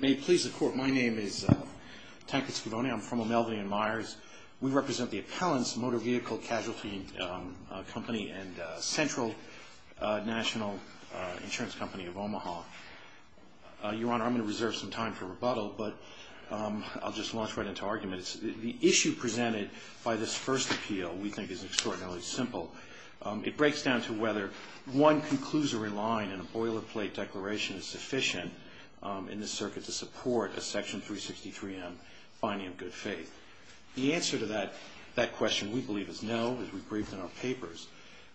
May it please the Court, my name is Tancred Scavone. I'm from O'Melveny & Myers. We represent the Appellants Motor Vehicle Casualty Company and Central National Insurance Company of Omaha. Your Honor, I'm going to reserve some time for rebuttal, but I'll just launch right into arguments. The issue presented by this first appeal we think is extraordinarily simple. It breaks down to whether one conclusory line in a boilerplate declaration is sufficient in this circuit to support a Section 363M finding of good faith. The answer to that question we believe is no, as we briefed in our papers.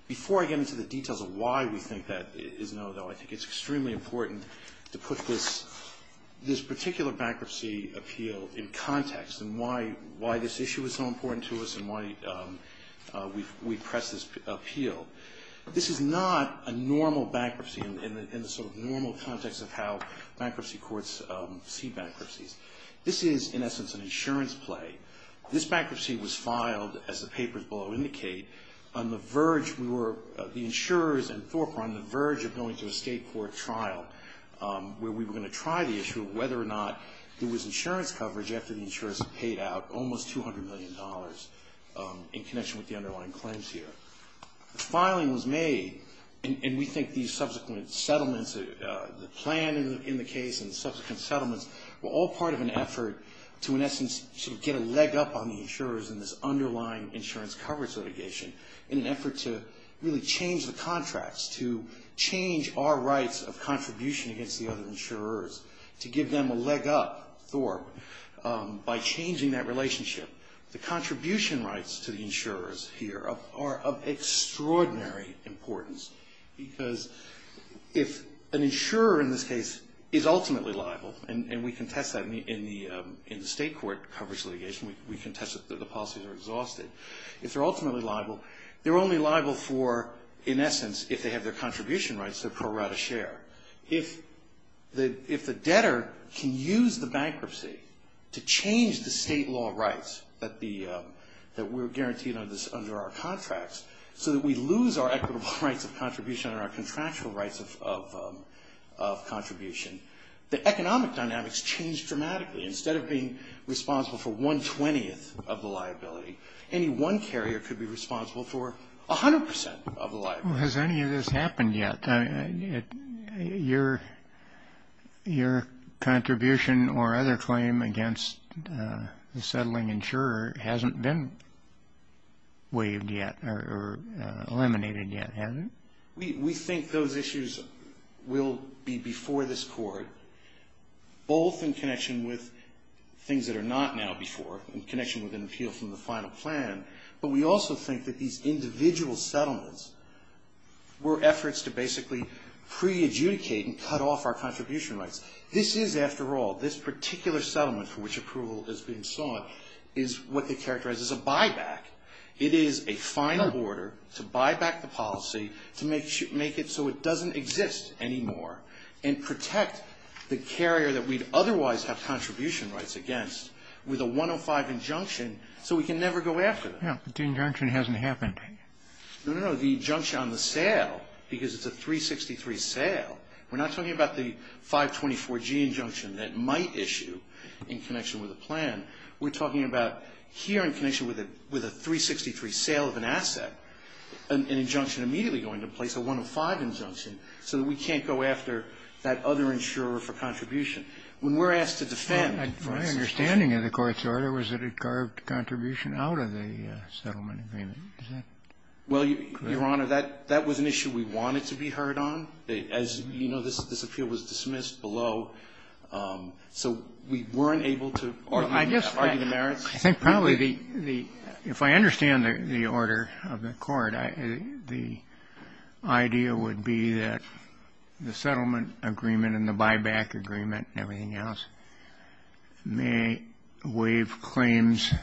Before I get into the details of why we think that is no, though, I think it's extremely important to put this particular bankruptcy appeal in context and why this issue is so important to us and why we press this appeal. This is not a normal bankruptcy in the sort of normal context of how bankruptcy courts see bankruptcies. This is, in essence, an insurance play. This bankruptcy was filed, as the papers below indicate, on the verge, we were, the insurers and Thorpe were on the verge of going to a state court trial where we were going to try the issue of whether or not there was insurance coverage after the insurers had paid out almost $200 million in connection with the underlying claims here. The filing was made, and we think these subsequent settlements, the plan in the case and subsequent settlements were all part of an effort to, in essence, sort of get a leg up on the insurers in this underlying insurance coverage litigation in an effort to really change the contracts, to change our rights of contribution against the other insurers, to give them a leg up, Thorpe, by changing that relationship. The contribution rights to the insurers here are of extraordinary importance because if an insurer in this case is ultimately liable, and we contest that in the state court coverage litigation, we contest that the policies are exhausted. If they're ultimately liable, they're only liable for, in essence, if they have their contribution rights, their pro rata share. If the debtor can use the bankruptcy to change the state law rights that we're guaranteed under our contracts, so that we lose our equitable rights of contribution and our contractual rights of contribution, the economic dynamics change dramatically. Instead of being responsible for one-twentieth of the liability, any one carrier could be responsible for 100% of the liability. Has any of this happened yet? Your contribution or other claim against the settling insurer hasn't been waived yet or eliminated yet, has it? We think those issues will be before this court, both in connection with things that are not now before, in connection with an appeal from the final plan, but we also think that these individual settlements were efforts to basically pre-adjudicate and cut off our contribution rights. This is, after all, this particular settlement for which approval has been sought, is what they characterize as a buyback. It is a final order to buy back the policy to make it so it doesn't exist anymore and protect the carrier that we'd otherwise have contribution rights against with a 105 injunction so we can never go after them. Yeah, but the injunction hasn't happened. No, no, no, the injunction on the sale, because it's a 363 sale, we're not talking about the 524G injunction that might issue in connection with a plan. We're talking about here in connection with a 363 sale of an asset, an injunction immediately going to place a 105 injunction so that we can't go after that other insurer for contribution. When we're asked to defend, for instance ---- My understanding of the court's order was that it carved contribution out of the settlement agreement. Is that correct? Well, Your Honor, that was an issue we wanted to be heard on. So we weren't able to argue that. I think probably the ---- if I understand the order of the court, the idea would be that the settlement agreement and the buyback agreement and everything else may waive claims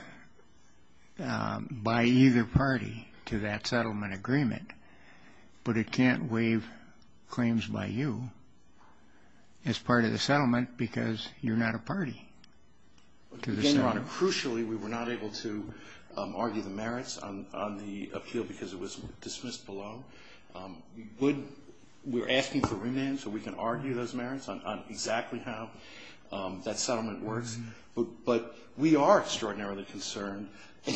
by either party to that settlement agreement, but it can't waive claims by you as part of the settlement because you're not a party. Again, Your Honor, crucially, we were not able to argue the merits on the appeal because it was dismissed below. We would ---- we're asking for remand so we can argue those merits on exactly how that settlement works, but we are extraordinarily concerned,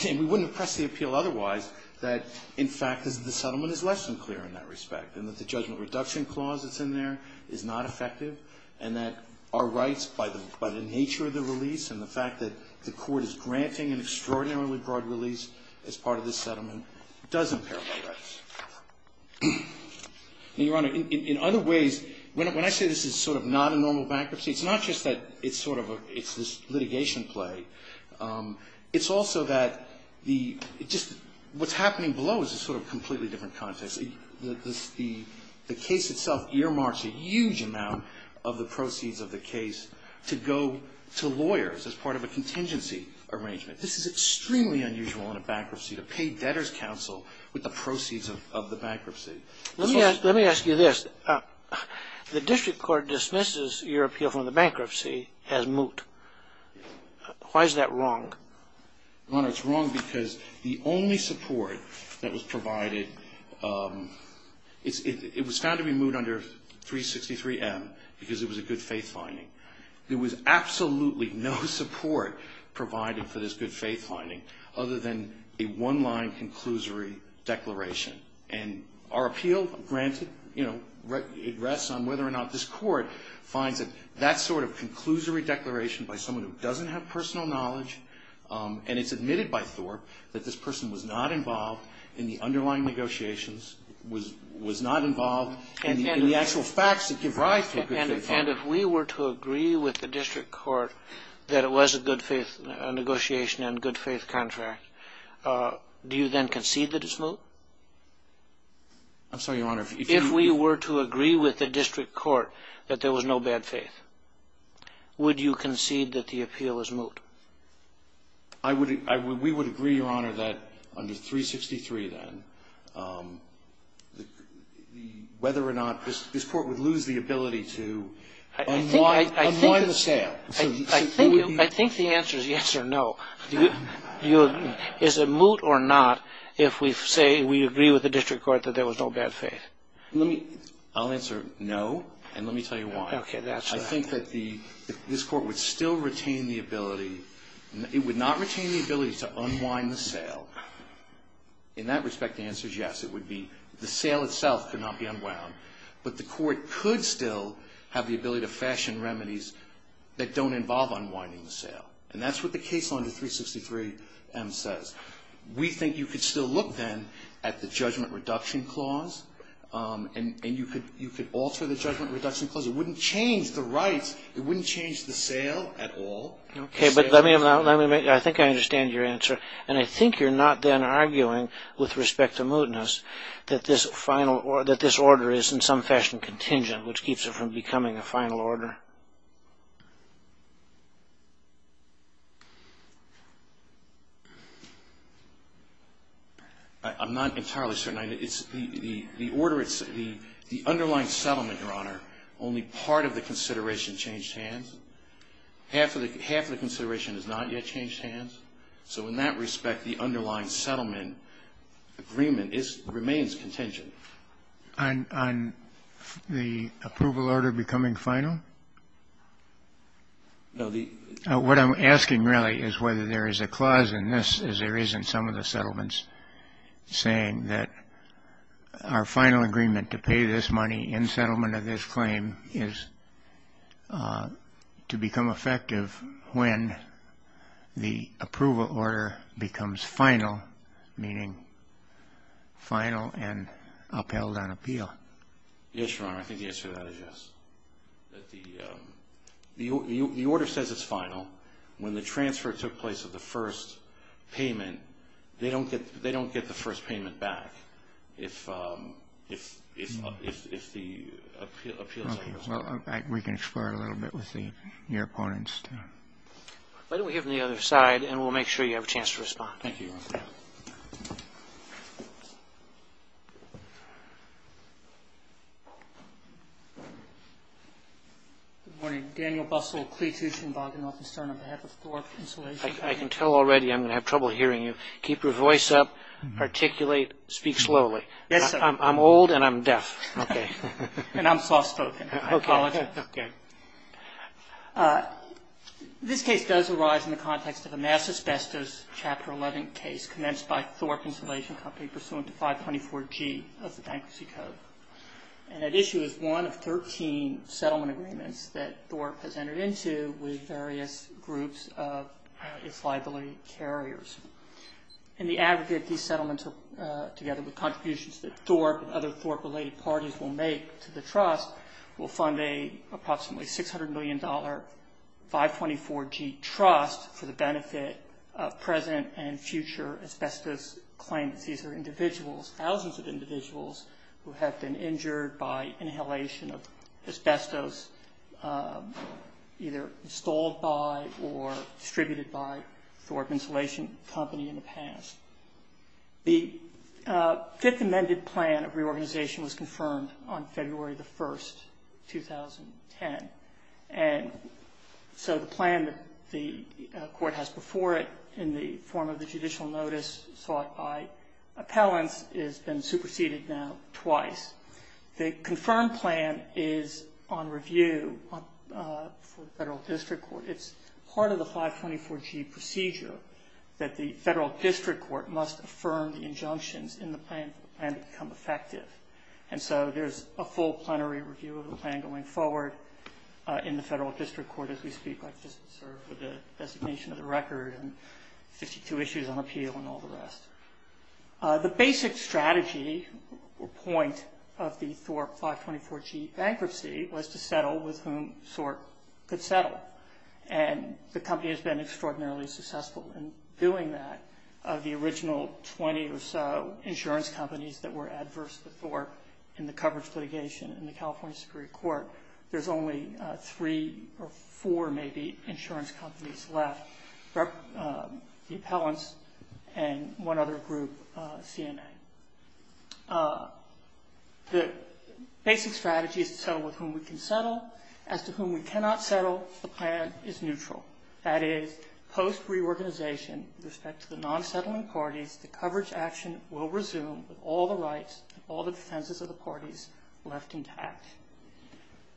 and we wouldn't press the appeal otherwise, that in fact the settlement is less than clear in that respect and that the judgment reduction clause that's in there is not effective and that our rights by the nature of the release and the fact that the court is granting an extraordinarily broad release as part of this settlement does impair our rights. Now, Your Honor, in other ways, when I say this is sort of not a normal bankruptcy, it's not just that it's sort of a ---- it's this litigation play. It's also that the ---- it just ---- what's happening below is a sort of completely different context. The case itself earmarks a huge amount of the proceeds of the case to go to lawyers as part of a contingency arrangement. This is extremely unusual in a bankruptcy to pay debtors' counsel with the proceeds of the bankruptcy. Let me ask you this. The district court dismisses your appeal from the bankruptcy as moot. Why is that wrong? Your Honor, it's wrong because the only support that was provided ---- it was found to be moot under 363M because it was a good faith finding. There was absolutely no support provided for this good faith finding other than a one-line conclusory declaration. And our appeal, granted, you know, it rests on whether or not this Court finds that that sort of conclusory declaration by someone who doesn't have personal knowledge and it's admitted by Thorpe that this person was not involved in the underlying negotiations, was not involved in the actual facts that give rise to a good faith finding. And if we were to agree with the district court that it was a good faith negotiation and good faith contract, do you then concede that it's moot? I'm sorry, Your Honor. If we were to agree with the district court that there was no bad faith, would you concede that the appeal is moot? I would ---- we would agree, Your Honor, that under 363 then, whether or not this Court would lose the ability to unwind the sail. I think the answer is yes or no. Is it moot or not if we say we agree with the district court that there was no bad faith? Let me ---- I'll answer no, and let me tell you why. Okay. That's right. I think that the ---- this Court would still retain the ability ---- it would not retain the ability to unwind the sail. In that respect, the answer is yes. It would be the sail itself could not be unwound. But the Court could still have the ability to fashion remedies that don't involve unwinding the sail. And that's what the case under 363M says. We think you could still look then at the judgment reduction clause and you could alter the judgment reduction clause. It wouldn't change the rights. It wouldn't change the sail at all. Okay. But let me make ---- I think I understand your answer. And I think you're not then arguing with respect to mootness that this final ---- that this order is in some fashion contingent, which keeps it from becoming a final order. I'm not entirely certain. The underlying settlement, Your Honor, only part of the consideration changed hands. Half of the consideration has not yet changed hands. So in that respect, the underlying settlement agreement remains contingent. On the approval order becoming final? No, the ---- What I'm asking really is whether there is a clause in this as there is in some of the settlements saying that our final agreement to pay this money in settlement of this claim is to become effective when the approval order becomes final, meaning final and upheld on appeal. Yes, Your Honor. I think the answer to that is yes. The order says it's final. When the transfer took place of the first payment, they don't get the first payment back if the appeal is upheld. We can explore it a little bit with your opponents. Why don't we go to the other side and we'll make sure you have a chance to respond. Thank you, Your Honor. Good morning. Daniel Bustle, Klee Tuchin, Bogdanoff and Stern on behalf of Thorpe Insulation. I can tell already I'm going to have trouble hearing you. Keep your voice up, articulate, speak slowly. Yes, sir. I'm old and I'm deaf. Okay. And I'm soft spoken. Okay. I apologize. Okay. This case does arise in the context of a mass asbestos Chapter 11 case commenced by Thorpe Insulation Company pursuant to 524G of the bankruptcy code. And that issue is one of 13 settlement agreements that Thorpe has entered into with various groups of its liability carriers. And the aggregate of these settlements together with contributions that Thorpe and other Thorpe-related parties will make to the trust will fund an approximately $600 million 524G trust for the benefit of present and future asbestos claimants. These are individuals, thousands of individuals, who have been injured by inhalation of asbestos either installed by The fifth amended plan of reorganization was confirmed on February the 1st, 2010. And so the plan that the court has before it in the form of the judicial notice sought by appellants has been superseded now twice. The confirmed plan is on review for the federal district court. It's part of the 524G procedure that the federal district court must affirm the injunctions in the plan to become effective. And so there's a full plenary review of the plan going forward in the federal district court as we speak, like just sort of the designation of the record and 52 issues on appeal and all the rest. The basic strategy or point of the Thorpe 524G bankruptcy was to settle with whom Thorpe could settle. And the company has been extraordinarily successful in doing that. Of the original 20 or so insurance companies that were adverse to Thorpe in the coverage litigation in the California Supreme Court, there's only three or four maybe insurance companies left, the appellants and one other group, CNA. The basic strategy is to settle with whom we can settle. As to whom we cannot settle, the plan is neutral. That is, post-reorganization with respect to the non-settling parties, the coverage action will resume with all the rights and all the defenses of the parties left intact.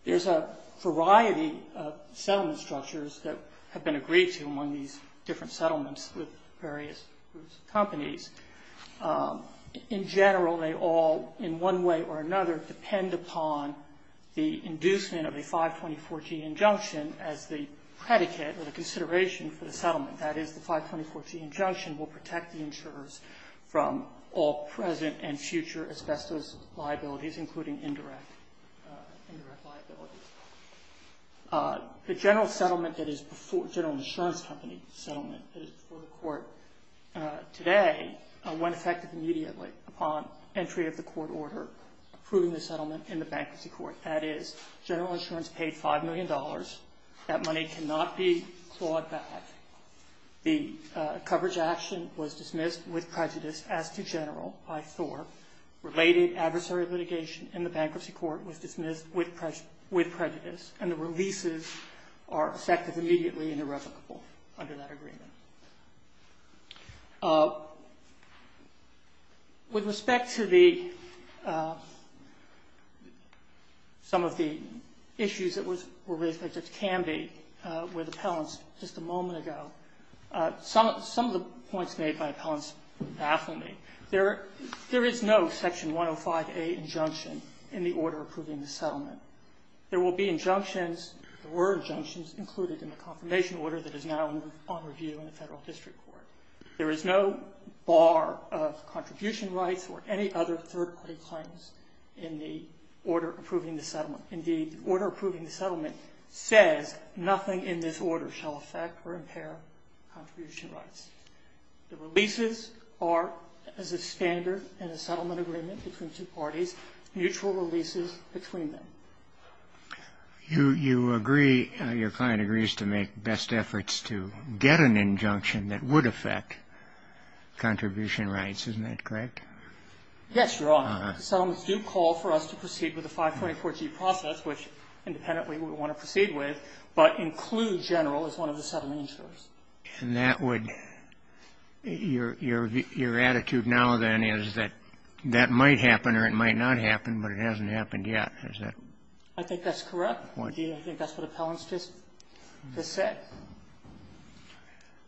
There's a variety of settlement structures that have been agreed to among these different settlements with various groups of companies. In general, they all, in one way or another, depend upon the inducement of a 524G injunction as the predicate or the consideration for the settlement. That is, the 524G injunction will protect the insurers from all present and future asbestos liabilities, including indirect liabilities. The general insurance company settlement that is before the court today went effective immediately upon entry of the court order approving the settlement in the bankruptcy court. That is, general insurance paid $5 million. That money cannot be clawed back. The coverage action was dismissed with prejudice as to general by Thorpe. Related adversary litigation in the bankruptcy court was dismissed with prejudice, and the releases are effective immediately and irrevocable under that agreement. With respect to some of the issues that were raised by Judge Camby with appellants just a moment ago, some of the points made by appellants baffled me. There is no section 105A injunction in the order approving the settlement. There will be injunctions, there were injunctions included in the confirmation order that is now on review in the federal district court. There is no bar of contribution rights or any other third-party claims in the order approving the settlement. Indeed, the order approving the settlement says nothing in this order shall affect or impair contribution rights. The releases are as a standard in the settlement agreement between two parties, mutual releases between them. You agree, your client agrees to make best efforts to get an injunction that would affect contribution rights, isn't that correct? Yes, Your Honor. Settlements do call for us to proceed with the 524G process, which independently we would want to proceed with, but include general as one of the settlement insurers. And that would be your attitude now then is that that might happen or it might not happen, but it hasn't happened yet, is that? I think that's correct. I think that's what appellants just said.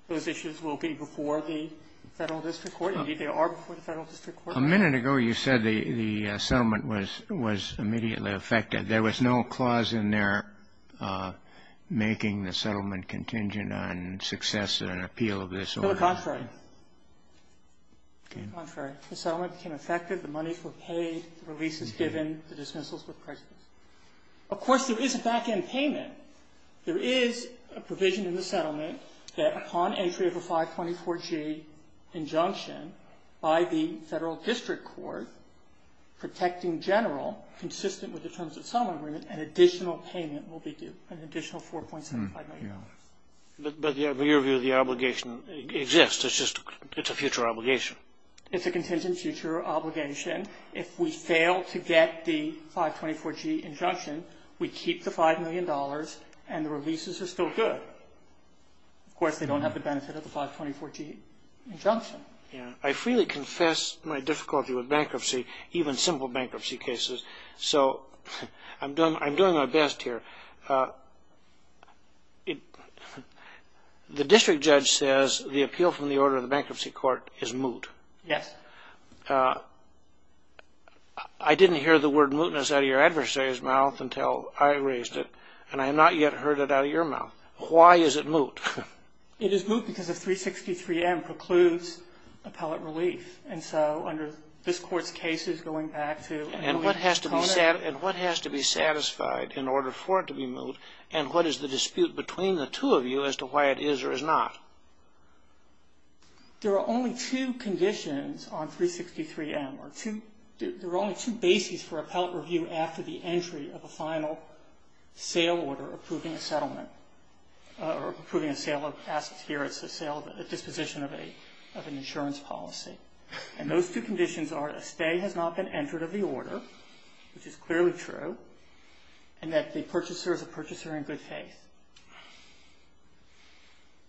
Those issues will be before the federal district court. Indeed, they are before the federal district court. A minute ago you said the settlement was immediately affected. There was no clause in there making the settlement contingent on success and appeal of this order. To the contrary. Okay. To the contrary. The settlement became effective. The money was paid. The release was given. The dismissals were present. Of course, there is a back-end payment. There is a provision in the settlement that upon entry of a 524G injunction by the federal district court protecting general consistent with the terms of settlement agreement, an additional payment will be due, an additional $4.75 million. But in your view, the obligation exists. It's just a future obligation. It's a contingent future obligation. If we fail to get the 524G injunction, we keep the $5 million, and the releases are still good. Of course, they don't have the benefit of the 524G injunction. I freely confess my difficulty with bankruptcy, even simple bankruptcy cases. So I'm doing my best here. The district judge says the appeal from the order of the bankruptcy court is moot. Yes. I didn't hear the word mootness out of your adversary's mouth until I raised it, and I have not yet heard it out of your mouth. Why is it moot? It is moot because of 363M precludes appellate relief. And so under this Court's cases, going back to a moot component. And what has to be satisfied in order for it to be moot, and what is the dispute between the two of you as to why it is or is not? There are only two conditions on 363M, or there are only two bases for appellate It's the sale of a disposition of an insurance policy. And those two conditions are that a stay has not been entered of the order, which is clearly true, and that the purchaser is a purchaser in good faith.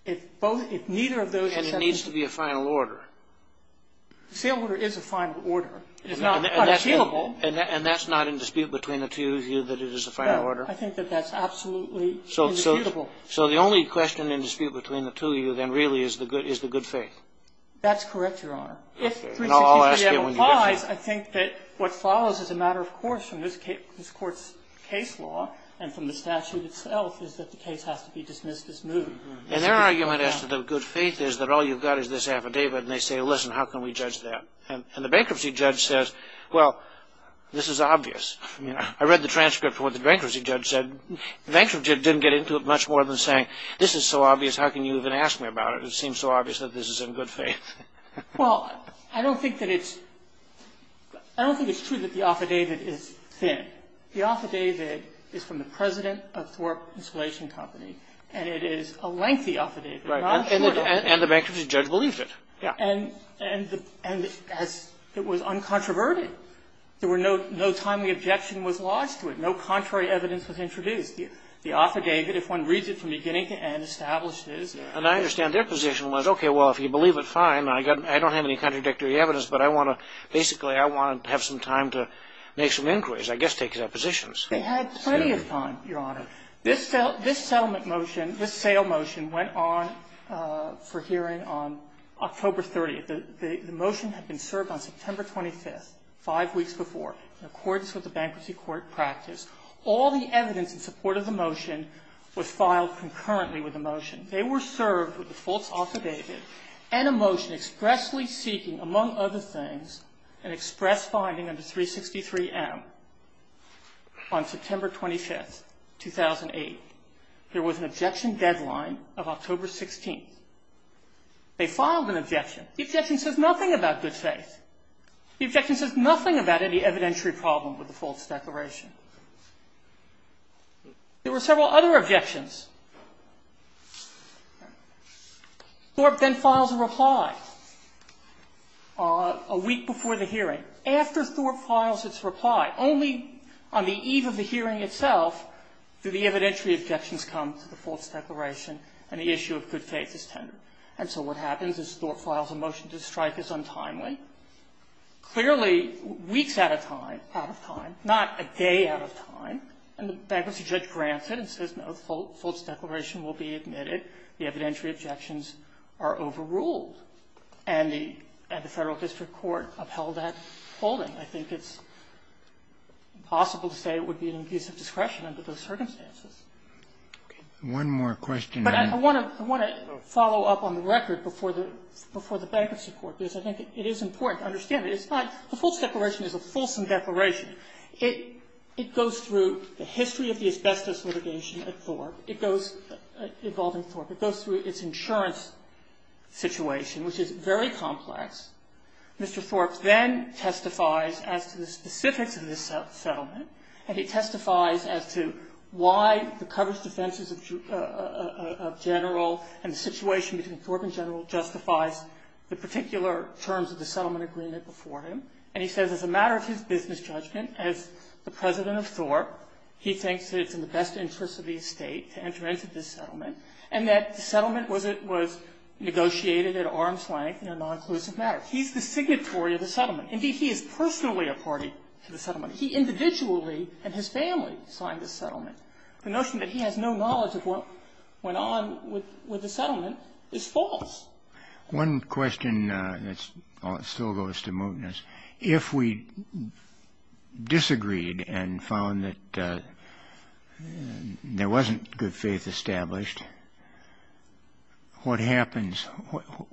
And it needs to be a final order. The sale order is a final order. It is not unappealable. And that's not in dispute between the two of you that it is a final order? No, I think that that's absolutely indisputable. So the only question in dispute between the two of you then really is the good faith? That's correct, Your Honor. If 363M applies, I think that what follows is a matter of course from this Court's case law and from the statute itself is that the case has to be dismissed as moot. And their argument as to the good faith is that all you've got is this affidavit, and they say, listen, how can we judge that? And the bankruptcy judge says, well, this is obvious. I read the transcript of what the bankruptcy judge said. The bankruptcy judge didn't get into it much more than saying, this is so obvious, how can you even ask me about it? It seems so obvious that this is in good faith. Well, I don't think that it's true that the affidavit is thin. The affidavit is from the president of Thorpe Installation Company, and it is a lengthy affidavit. Right. And the bankruptcy judge believed it. Yeah. And it was uncontroverted. There were no timely objections to it. No contrary evidence was introduced. The author gave it. If one reads it from beginning to end, establishes. And I understand their position was, okay, well, if you believe it, fine. I don't have any contradictory evidence, but I want to – basically, I want to have some time to make some inquiries. I guess take their positions. They had plenty of time, Your Honor. This settlement motion, this sale motion, went on for hearing on October 30th. The motion had been served on September 25th, five weeks before. In accordance with the bankruptcy court practice, all the evidence in support of the motion was filed concurrently with the motion. They were served with a false affidavit and a motion expressly seeking, among other things, an express finding under 363M on September 25th, 2008. There was an objection deadline of October 16th. They filed an objection. The objection says nothing about good faith. The objection says nothing about any evidentiary problem with the false declaration. There were several other objections. Thorpe then files a reply a week before the hearing. After Thorpe files its reply, only on the eve of the hearing itself do the evidentiary objections come to the false declaration and the issue of good faith is tendered. And so what happens is Thorpe files a motion to strike as untimely. Clearly, weeks at a time, out of time, not a day out of time. And the bankruptcy judge grants it and says, no, the false declaration will be admitted. The evidentiary objections are overruled. And the Federal District Court upheld that holding. I think it's impossible to say it would be an abuse of discretion under those circumstances. Okay. One more question. But I want to follow up on the record before the bankruptcy court because I think it is important to understand that it's not the false declaration is a fulsome declaration. It goes through the history of the asbestos litigation at Thorpe. It goes, involving Thorpe, it goes through its insurance situation, which is very complex. Mr. Thorpe then testifies as to the specifics of this settlement, and he testifies as to why the coverage defenses of general and the situation between Thorpe and general justifies the particular terms of the settlement agreement before him. And he says as a matter of his business judgment, as the president of Thorpe, he thinks that it's in the best interest of the estate to enter into this settlement and that the settlement was negotiated at arm's length in a non-inclusive manner. He's the signatory of the settlement. Indeed, he is personally a party to the settlement. He individually and his family signed the settlement. The notion that he has no knowledge of what went on with the settlement is false. One question that still goes to mootness. If we disagreed and found that there wasn't good faith established, what happens?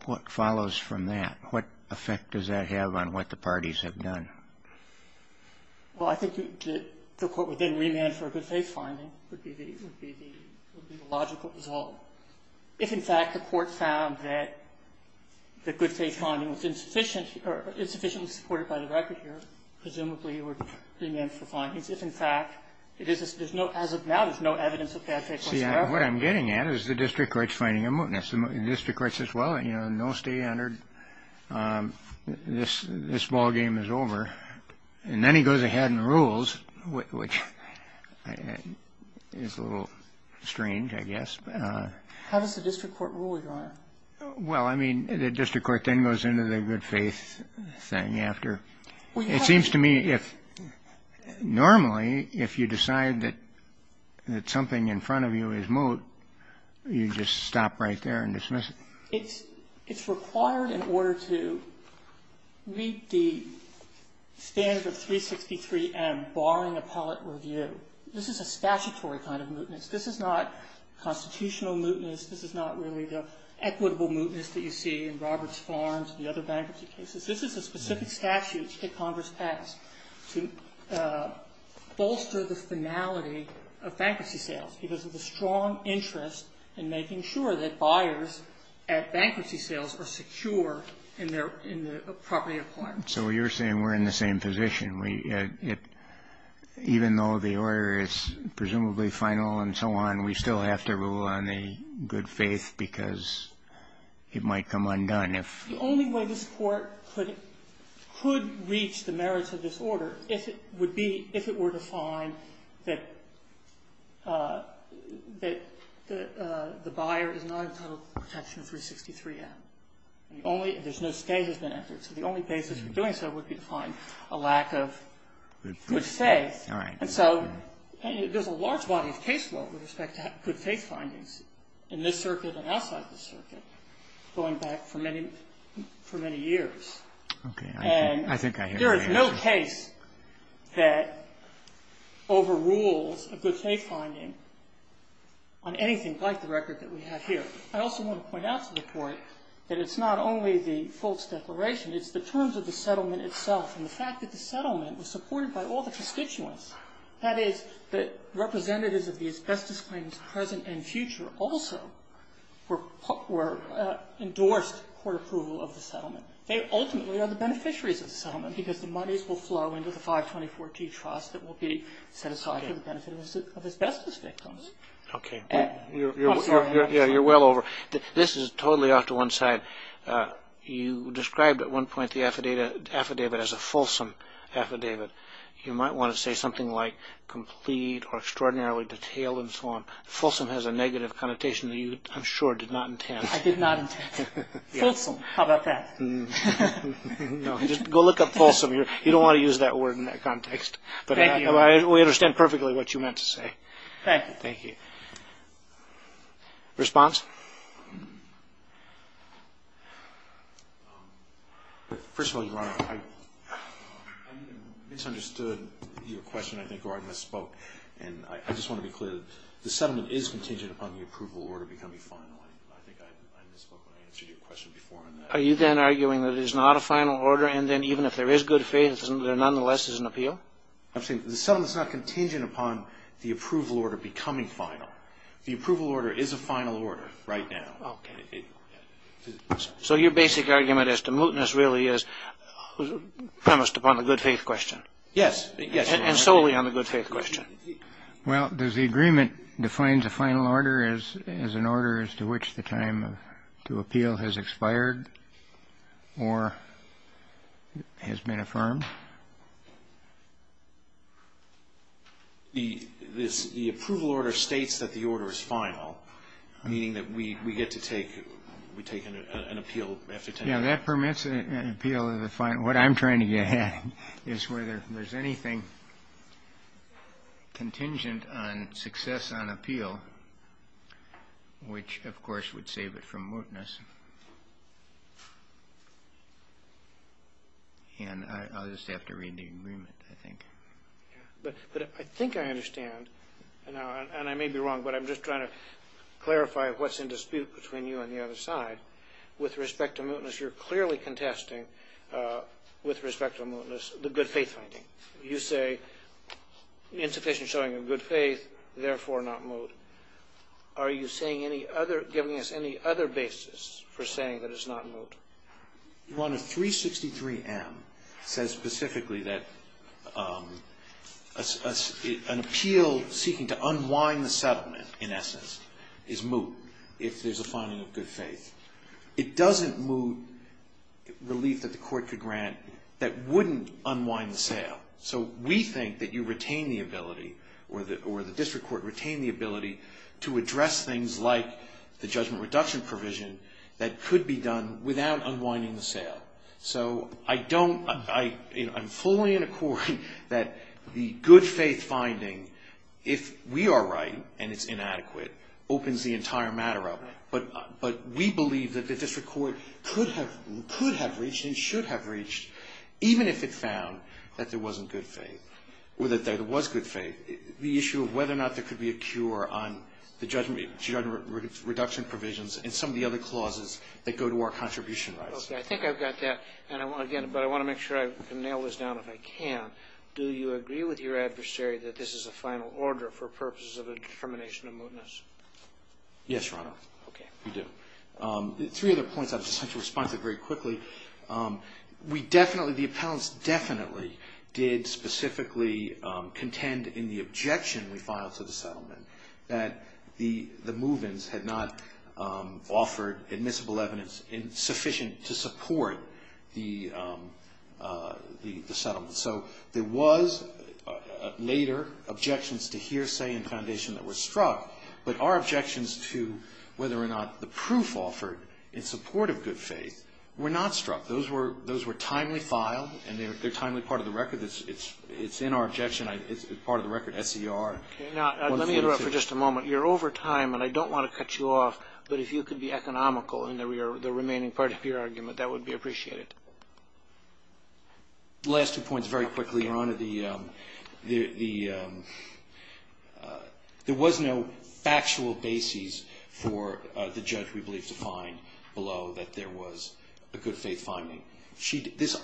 What follows from that? What effect does that have on what the parties have done? Well, I think the Court would then remand for a good faith finding would be the logical result. If, in fact, the Court found that the good faith finding was insufficient or insufficiently supported by the record here, presumably it would remand for findings. If, in fact, there's no as of now, there's no evidence of bad faith finding. See, what I'm getting at is the district court's finding of mootness. The district court says, well, you know, no stay entered. This ballgame is over. And then he goes ahead and rules, which is a little strange, I guess. How does the district court rule, Your Honor? Well, I mean, the district court then goes into the good faith thing after. It seems to me if normally if you decide that something in front of you is moot, you just stop right there and dismiss it. It's required in order to meet the standard of 363M barring appellate review. This is a statutory kind of mootness. This is not constitutional mootness. This is not really the equitable mootness that you see in Roberts Farms and the other bankruptcy cases. This is a specific statute that Congress passed to bolster the finality of bankruptcy sales because of the strong interest in making sure that buyers at bankruptcy sales are secure in their property requirements. So you're saying we're in the same position. Even though the order is presumably final and so on, we still have to rule on the good faith because it might come undone. The only way this Court could reach the merits of this order would be if it were to find that the buyer is not entitled to protection of 363M. There's no stage that's been entered. So the only basis for doing so would be to find a lack of good faith. And so there's a large body of case law with respect to good faith findings in this circuit and outside the circuit going back for many years. And there is no case that overrules a good faith finding on anything like the record that we have here. I also want to point out to the Court that it's not only the Foltz declaration. It's the terms of the settlement itself and the fact that the settlement was supported by all the constituents, that is, that representatives of the asbestos claims present and future also were endorsed court approval of the settlement. They ultimately are the beneficiaries of the settlement because the monies will flow into the 524G trust that will be set aside for the benefit of asbestos victims. Okay. You're well over. This is totally off to one side. You described at one point the affidavit as a fulsome affidavit. You might want to say something like complete or extraordinarily detailed and so on. Fulsome has a negative connotation that you, I'm sure, did not intend. I did not intend. Fulsome, how about that? Go look up fulsome. You don't want to use that word in that context. Thank you. But we understand perfectly what you meant to say. Thank you. Response? First of all, Your Honor, I misunderstood your question, I think, or I misspoke. And I just want to be clear that the settlement is contingent upon the approval order becoming final. I think I misspoke when I answered your question before on that. Are you then arguing that it is not a final order and then even if there is good faith, there nonetheless is an appeal? I'm saying the settlement is not contingent upon the approval order becoming final. The approval order is a final order. Right now. So your basic argument as to mootness really is premised upon the good faith question. Yes. And solely on the good faith question. Well, does the agreement define the final order as an order as to which the time to appeal has expired or has been affirmed? The approval order states that the order is final, meaning that we get to take an appeal. Yes, that permits an appeal. What I'm trying to get at is whether there's anything contingent on success on appeal, which of course would save it from mootness. And I'll just have to read the agreement, I think. But I think I understand, and I may be wrong, but I'm just trying to clarify what's in dispute between you and the other side with respect to mootness. You're clearly contesting with respect to mootness the good faith finding. You say insufficient showing of good faith, therefore not moot. Are you giving us any other basis for saying that it's not moot? One of 363M says specifically that an appeal seeking to unwind the settlement, in essence, is moot if there's a finding of good faith. It doesn't moot relief that the court could grant that wouldn't unwind the sale. So we think that you retain the ability, or the district court retain the ability, to address things like the judgment reduction provision that could be done without unwinding the sale. So I don't, I'm fully in accord that the good faith finding, if we are right and it's inadequate, opens the entire matter up. But we believe that the district court could have reached and should have reached, even if it found that there wasn't good faith, or that there was good faith, the issue of whether or not there could be a cure on the judgment reduction provisions and some of the other clauses that go to our contribution rights. Okay. I think I've got that. But I want to make sure I can nail this down if I can. Do you agree with your adversary that this is a final order for purposes of a determination of mootness? Yes, Your Honor. Okay. We do. Three other points. I'll just have to respond to it very quickly. We definitely, the appellants definitely did specifically contend in the objection we filed to the settlement that the move-ins had not offered admissible evidence sufficient to support the settlement. So there was later objections to hearsay and foundation that were struck, but our objections to whether or not the proof offered in support of good faith were not struck. Those were timely filed, and they're timely part of the record. It's in our objection. It's part of the record SCR 142. Now, let me interrupt for just a moment. You're over time, and I don't want to cut you off, but if you could be economical in the remaining part of your argument, that would be appreciated. Last two points very quickly, Your Honor. There was no factual basis for the judge, we believe, to find below that there was a good faith finding.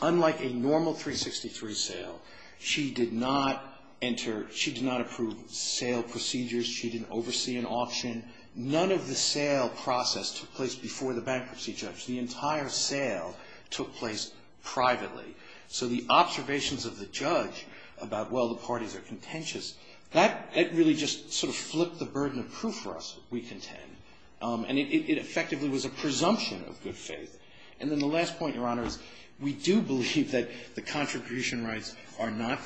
Unlike a normal 363 sale, she did not enter, she did not approve sale procedures. She didn't oversee an auction. None of the sale process took place before the bankruptcy judge. The entire sale took place privately. So the observations of the judge about, well, the parties are contentious, that really just sort of flipped the burden of proof for us, we contend. And it effectively was a presumption of good faith. And then the last point, Your Honor, is we do believe that the contribution rights are not,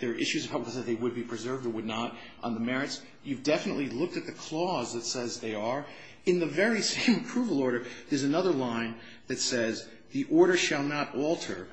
there are issues about whether they would be preserved or would not on the merits. You've definitely looked at the clause that says they are. In the very same approval order, there's another line that says, the order shall not alter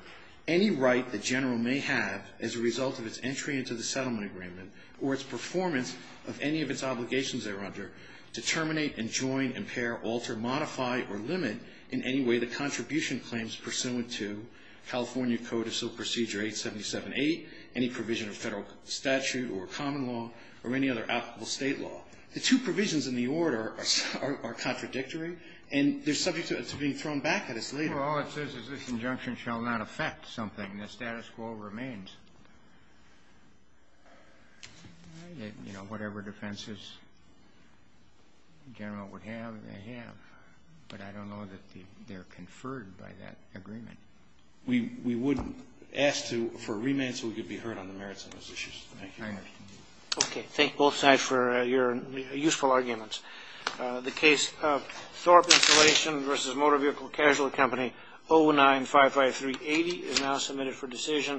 any right the general may have as a result of its entry into the settlement agreement or its performance of any of its obligations thereunder, to terminate, enjoin, impair, alter, modify, or limit in any way the contribution claims pursuant to California Code of Sale Procedure 877-8, any provision of federal statute or common law or any other applicable state law. The two provisions in the order are contradictory, and they're subject to being thrown back at us later. All it says is this injunction shall not affect something. The status quo remains. You know, whatever defenses the general would have, they have. But I don't know that they're conferred by that agreement. We wouldn't ask for a remand so we could be heard on the merits of those issues. Thank you. Thank you. Okay. Thank both sides for your useful arguments. The case of Thorpe Installation v. Motor Vehicle Casualty Company 0955380 is now submitted for decision.